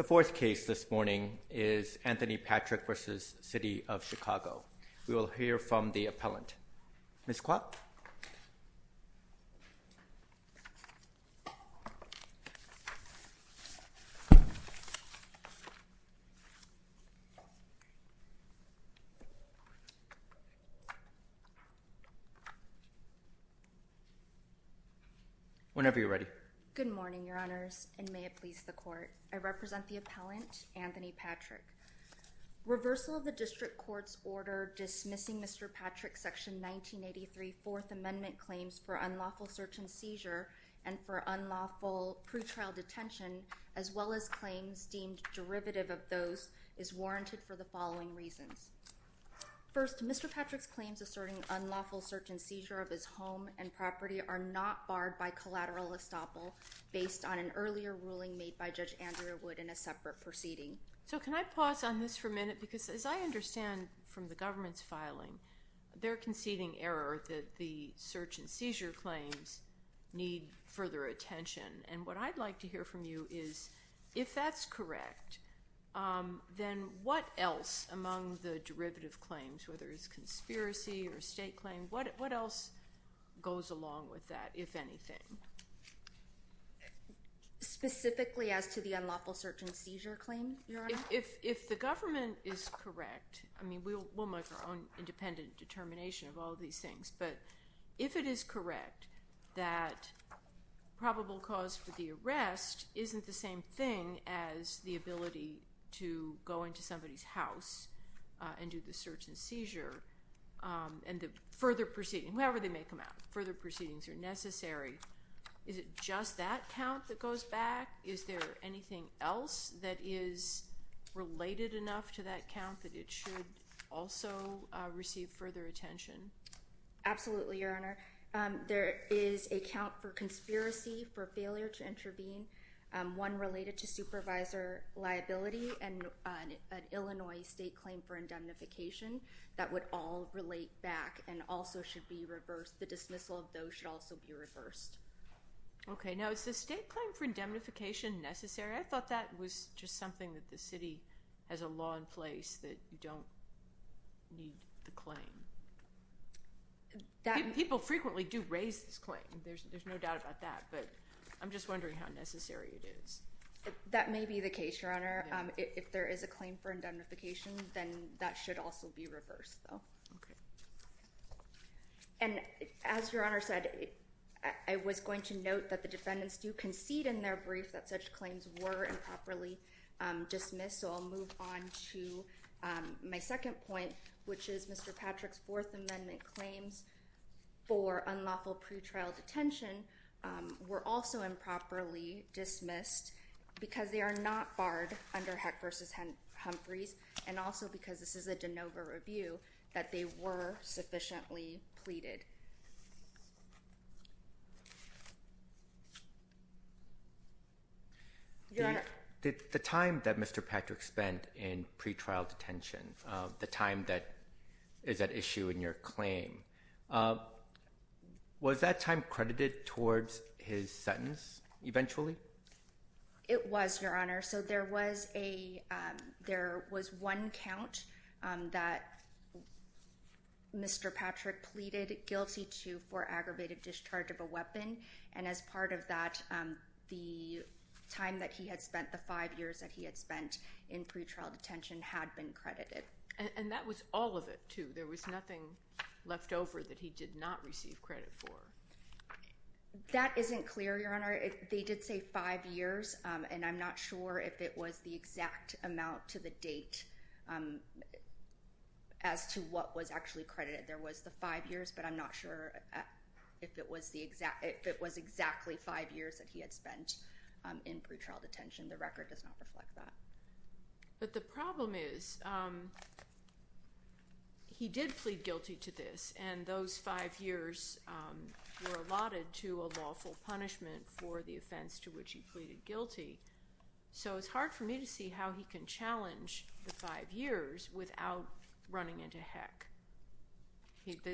We will hear from the appellant, Ms. Klopp. Whenever you're ready. Good morning, Your Honors, and may it please the court. I represent the appellant, Anthony Patrick. Reversal of the district court's order dismissing Mr. Patrick's Section 1983 Fourth Amendment claims for unlawful search and seizure and for unlawful pre-trial detention, as well as claims deemed derivative of those, is warranted for the following reasons. First, Mr. Patrick's claims asserting unlawful search and seizure of his home and property are not barred by collateral estoppel based on an earlier ruling made by Judge Andrea Wood in a separate proceeding. So can I pause on this for a minute? Because as I understand from the government's filing, they're conceding error that the search and seizure claims need further attention. And what I'd like to hear from you is, if that's correct, then what else among the derivative claims, whether it's conspiracy or state claim, what else goes along with that, if anything? Specifically as to the unlawful search and seizure claim, Your Honor? If the government is correct, I mean, we'll make our own independent determination of all of these things. But if it is correct that probable cause for the arrest isn't the same thing as the ability to go into somebody's house and do the search and seizure, and the further proceeding, however they make them out, further proceedings are necessary, is it just that count that goes back? Is there anything else that is related enough to that count that it should also receive further attention? Absolutely, Your Honor. There is a count for conspiracy for failure to intervene, one related to supervisor liability and an Illinois state claim for indemnification that would all relate back and also should be reversed. The dismissal of those should also be reversed. OK, now is the state claim for indemnification necessary? I thought that was just something that the city has a law in place that you don't need the claim. People frequently do raise this claim. There's no doubt about that. But I'm just wondering how necessary it is. That may be the case, Your Honor. If there is a claim for indemnification, then that should also be reversed, though. OK. And as Your Honor said, I was going to note that the defendants do concede in their brief that such claims were improperly dismissed. So I'll move on to my second point, which is Mr. Patrick's Fourth Amendment claims for unlawful pretrial detention were also improperly dismissed because they are not barred under Heck versus Humphreys. And also because this is a DeNova review, that they were sufficiently pleaded. The time that Mr. Patrick spent in pretrial detention, the time that is at issue in your claim, was that time credited towards his sentence eventually? It was, Your Honor. So there was one count that Mr. Patrick pleaded guilty to for aggravated discharge of a weapon. And as part of that, the time that he had spent, the five years that he had spent in pretrial detention, had been credited. And that was all of it, too? There was nothing left over that he did not receive credit for? That isn't clear, Your Honor. They did say five years. And I'm not sure if it was the exact amount to the date as to what was actually credited. There was the five years. But I'm not sure if it was exactly five years that he had spent in pretrial detention. The record does not reflect that. But the problem is, he did plead guilty to this. to a lawful punishment for the offense to which he pleaded guilty. So it's hard for me to see how he can challenge the five years without running into heck.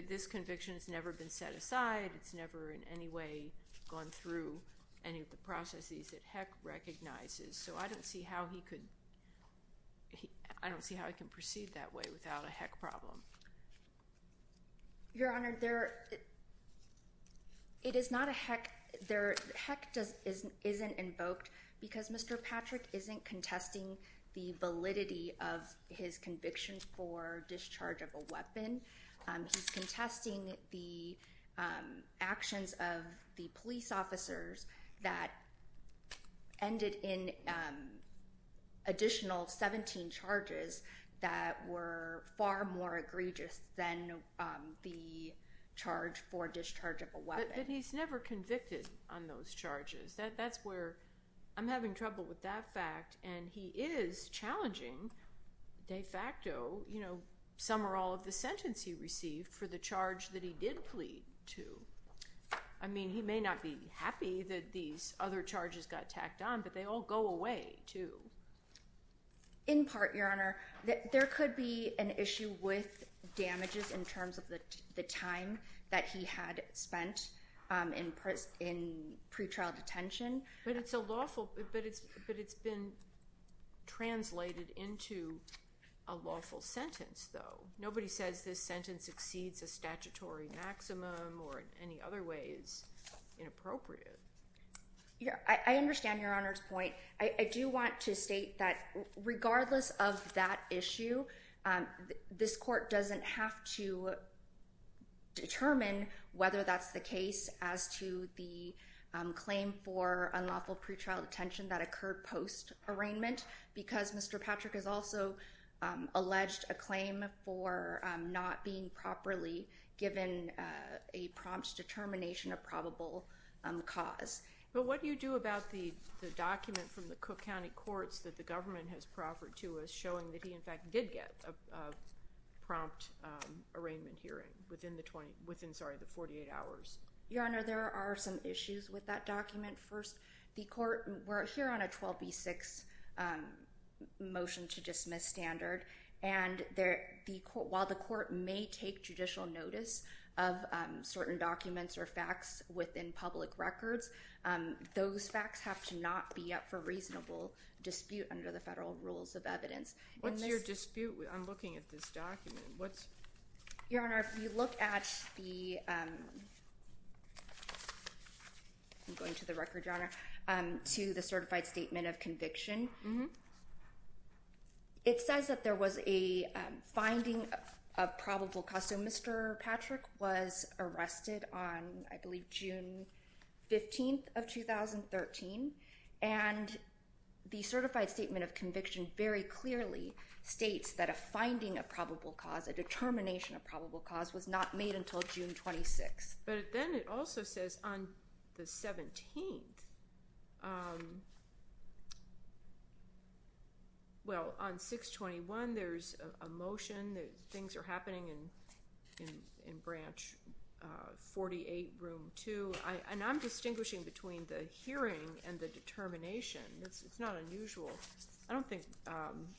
This conviction has never been set aside. It's never in any way gone through any of the processes that heck recognizes. So I don't see how he could proceed that way without a heck problem. Your Honor, it is not a heck. Heck isn't invoked because Mr. Patrick isn't contesting the validity of his conviction for discharge of a weapon. He's contesting the actions of the police officers that ended in additional 17 charges that were far more egregious than the charge for discharge of a weapon. But he's never convicted on those charges. I'm having trouble with that fact. And he is challenging de facto some or all of the sentence he received for the charge that he did plead to. I mean, he may not be happy that these other charges got tacked on, but they all go away, too. In part, Your Honor, there could be an issue with damages in terms of the time that he had spent in pretrial detention. But it's a lawful, but it's been translated into a lawful sentence, though. Nobody says this sentence exceeds a statutory maximum or in any other way is inappropriate. I understand Your Honor's point. I do want to state that regardless of that issue, this court doesn't have to determine whether that's the case as to the claim for unlawful pretrial detention that occurred post-arraignment because Mr. Patrick has also alleged a claim for not being properly given a prompt determination of probable cause. But what do you do about the document from the Cook County courts that the government has proffered to us showing that he, in fact, did get a prompt arraignment hearing within the 48 hours? Your Honor, there are some issues with that document. First, the court, we're here on a 12B6 motion to dismiss standard. And while the court may take judicial notice of certain documents or facts within public records, those facts have to not be up for reasonable dispute under the federal rules of evidence. What's your dispute? I'm looking at this document. Your Honor, if you look at the, I'm going to the record, Your Honor, to the certified statement of conviction, it says that there was a finding of probable cause. So Mr. Patrick was arrested on, I believe, June 15 of 2013. And the certified statement of conviction very clearly states that a finding of probable cause, a determination of probable cause, was not made until June 26. But then it also says on the 17th, well, on 6-21, there's a motion that things are happening in branch 48, room 2. And I'm distinguishing between the hearing and the determination. It's not unusual. I don't think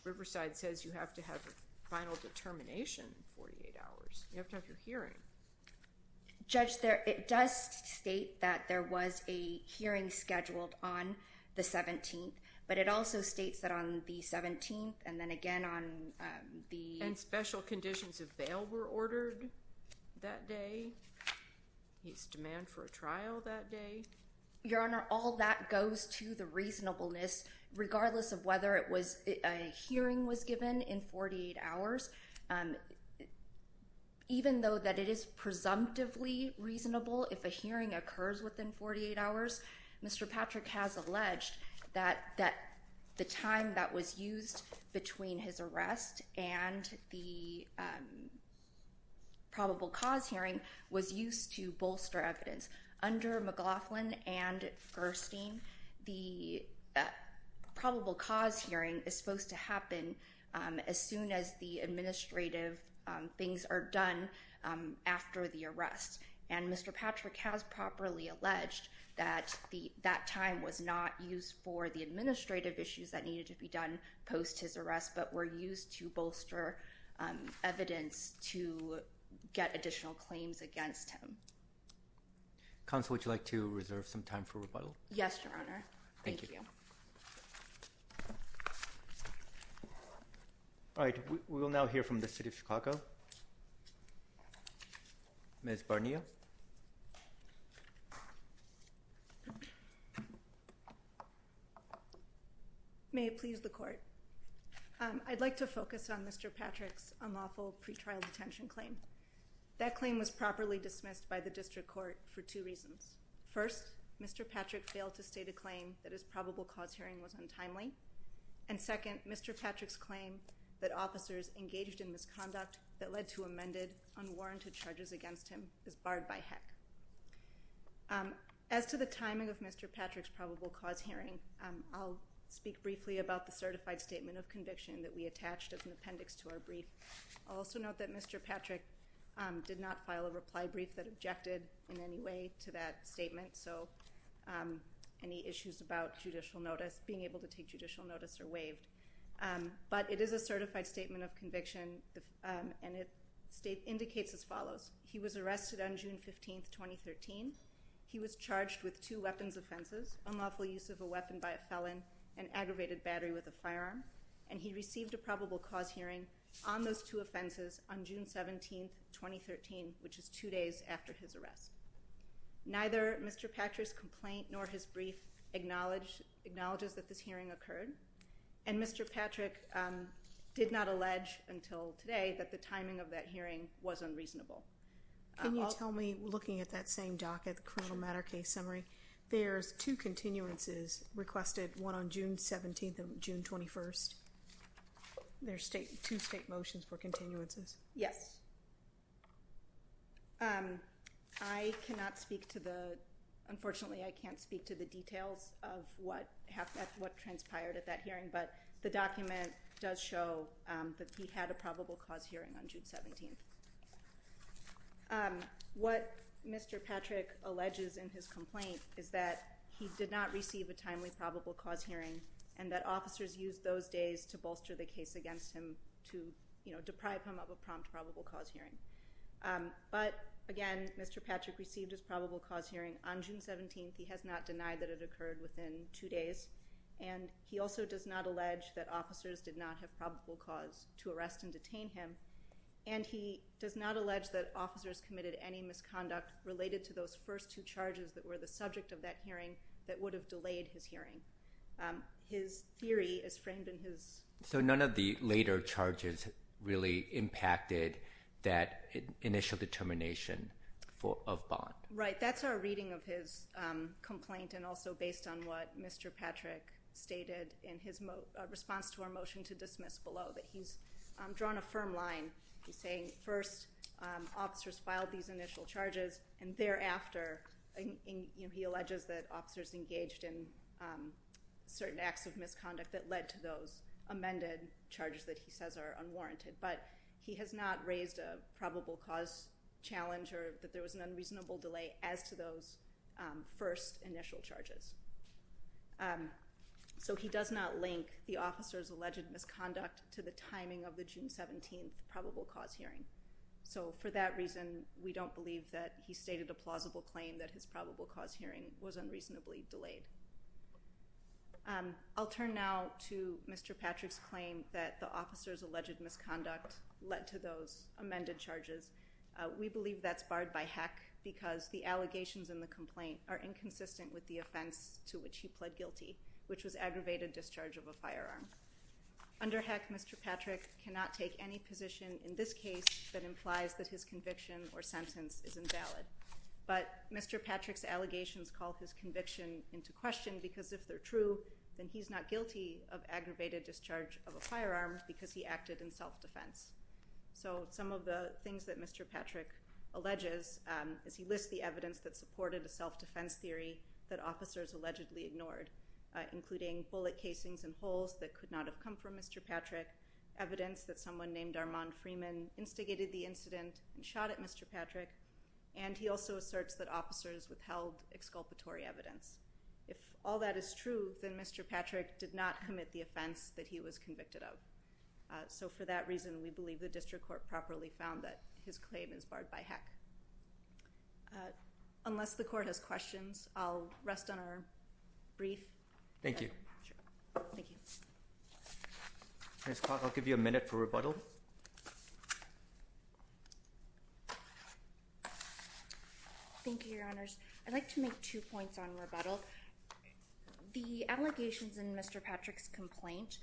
Riverside says you have to have a final determination in 48 hours. You have to have your hearing. Judge, it does state that there was a hearing scheduled on the 17th. But it also states that on the 17th, and then again on the And special conditions of bail were ordered that day. He's demanded for a trial that day. Your Honor, all that goes to the reasonableness, regardless of whether a hearing was given in 48 hours. Even though that it is presumptively reasonable if a hearing occurs within 48 hours, Mr. Patrick has alleged that the time that between his arrest and the probable cause hearing was used to bolster evidence. Under McLaughlin and Furstein, the probable cause hearing is supposed to happen as soon as the administrative things are done after the arrest. And Mr. Patrick has properly alleged that that time was not used for the administrative issues that were used to bolster evidence to get additional claims against him. Counsel, would you like to reserve some time for rebuttal? Yes, Your Honor. Thank you. All right, we will now hear from the city of Chicago. Ms. Barnio. Yes. May it please the court. I'd like to focus on Mr. Patrick's unlawful pretrial detention claim. That claim was properly dismissed by the district court for two reasons. First, Mr. Patrick failed to state a claim that his probable cause hearing was untimely. And second, Mr. Patrick's claim that officers engaged in misconduct that led to amended, unwarranted charges against him is barred by HEC. As to the timing of Mr. Patrick's probable cause hearing, I'll speak briefly about the certified statement of conviction that we attached as an appendix to our brief. I'll also note that Mr. Patrick did not file a reply brief that objected in any way to that statement. So any issues about judicial notice, being able to take judicial notice, are waived. But it is a certified statement of conviction. And it indicates as follows. He was arrested on June 15, 2013. He was charged with two weapons offenses, unlawful use of a weapon by a felon, and aggravated battery with a firearm. And he received a probable cause hearing on those two offenses on June 17, 2013, which is two days after his arrest. Neither Mr. Patrick's complaint nor his brief acknowledges that this hearing occurred. And Mr. Patrick did not allege until today that the timing of that hearing was unreasonable. Can you tell me, looking at that same docket, the criminal matter case summary, there's two continuances requested, one on June 17 and June 21. There's two state motions for continuances. Yes. I cannot speak to the, unfortunately, I can't speak to the details of what transpired at that hearing. But the document does show that he had a probable cause hearing on June 17. What Mr. Patrick alleges in his complaint is that he did not receive a timely probable cause hearing, and that officers used those days to bolster the case against him to deprive him of a prompt probable cause hearing. But again, Mr. Patrick received his probable cause hearing on June 17. He has not denied that it occurred within two days. And he also does not allege that officers did not have probable cause to arrest and detain him. And he does not allege that officers committed any misconduct related to those first two charges that were the subject of that hearing that would have delayed his hearing. His theory is framed in his. So none of the later charges really impacted that initial determination of Bond. Right. That's our reading of his complaint, and also based on what Mr. Patrick stated in his response to our motion to dismiss below, that he's drawn a firm line. He's saying, first, officers filed these initial charges. And thereafter, he alleges that officers engaged in certain acts of misconduct that led to those amended charges that he says are unwarranted. But he has not raised a probable cause challenge or that there was an unreasonable delay as to those first initial charges. So he does not link the officer's alleged misconduct to the timing of the June 17 probable cause hearing. So for that reason, we don't believe that he stated a plausible claim that his probable cause hearing was unreasonably delayed. I'll turn now to Mr. Patrick's claim that the officer's alleged misconduct led to those amended charges. We believe that's barred by HECC because the allegations in the complaint are inconsistent with the offense to which he pled guilty, which was aggravated discharge of a firearm. Under HECC, Mr. Patrick cannot take any position in this case that implies that his conviction or sentence is invalid. But Mr. Patrick's allegations call his conviction into question, because if they're true, then he's not guilty of aggravated discharge of a firearm because he acted in self-defense. So some of the things that Mr. Patrick alleges is he lists the evidence that supported a self-defense theory that officers allegedly ignored, including bullet casings and holes that could not have come from Mr. Patrick, evidence that someone named Armand Freeman instigated the incident and shot at Mr. Patrick, and he also asserts that officers withheld exculpatory evidence. If all that is true, then Mr. Patrick did not commit the offense that he was convicted of. So for that reason, we believe the district court properly found that his claim is barred by HECC. Unless the court has questions, I'll rest on our brief. Thank you. Thank you. Ms. Clark, I'll give you a minute for rebuttal. Thank you, Your Honors. I'd like to make two points on rebuttal. The allegations in Mr. Patrick's complaint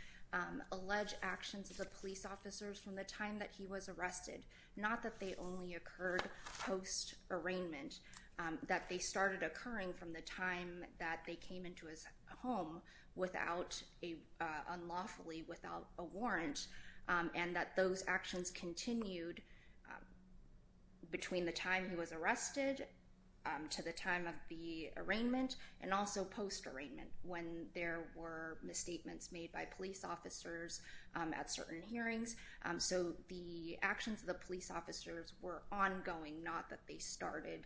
allege actions of the police officers from the time that he was arrested, not that they only occurred post-arraignment, that they started occurring from the time that they came into his home unlawfully, without a warrant, and that those actions continued between the time he was arrested to the time of the arraignment, and also post-arraignment, when there were misstatements made by police officers at certain hearings. So the actions of the police officers were ongoing, not that they started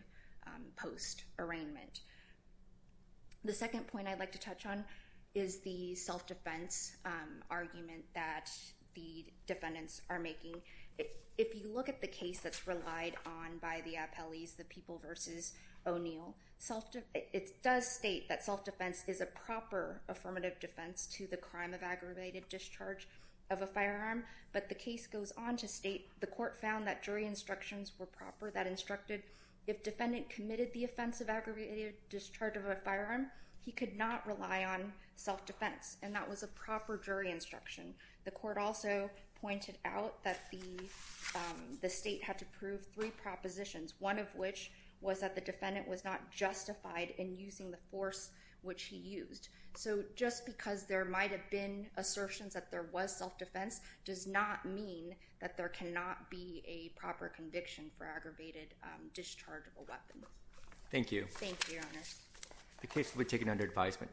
post-arraignment. The second point I'd like to touch on is the self-defense argument that the defendants are making. If you look at the case that's relied on by the appellees, the People v. O'Neill, it does state that self-defense is a proper affirmative defense to the crime of aggravated discharge of a firearm. But the case goes on to state, the court found that jury instructions were proper, that instructed if defendant committed the offense of aggravated discharge of a firearm, he could not rely on self-defense. And that was a proper jury instruction. The court also pointed out that the state had to prove three propositions, one of which was that the defendant was not justified in using the force which he used. So just because there might have been assertions that there was self-defense does not mean that there cannot be a proper conviction for aggravated discharge of a weapon. Thank you. Thank you, Your Honor. The case will be taken under advisement.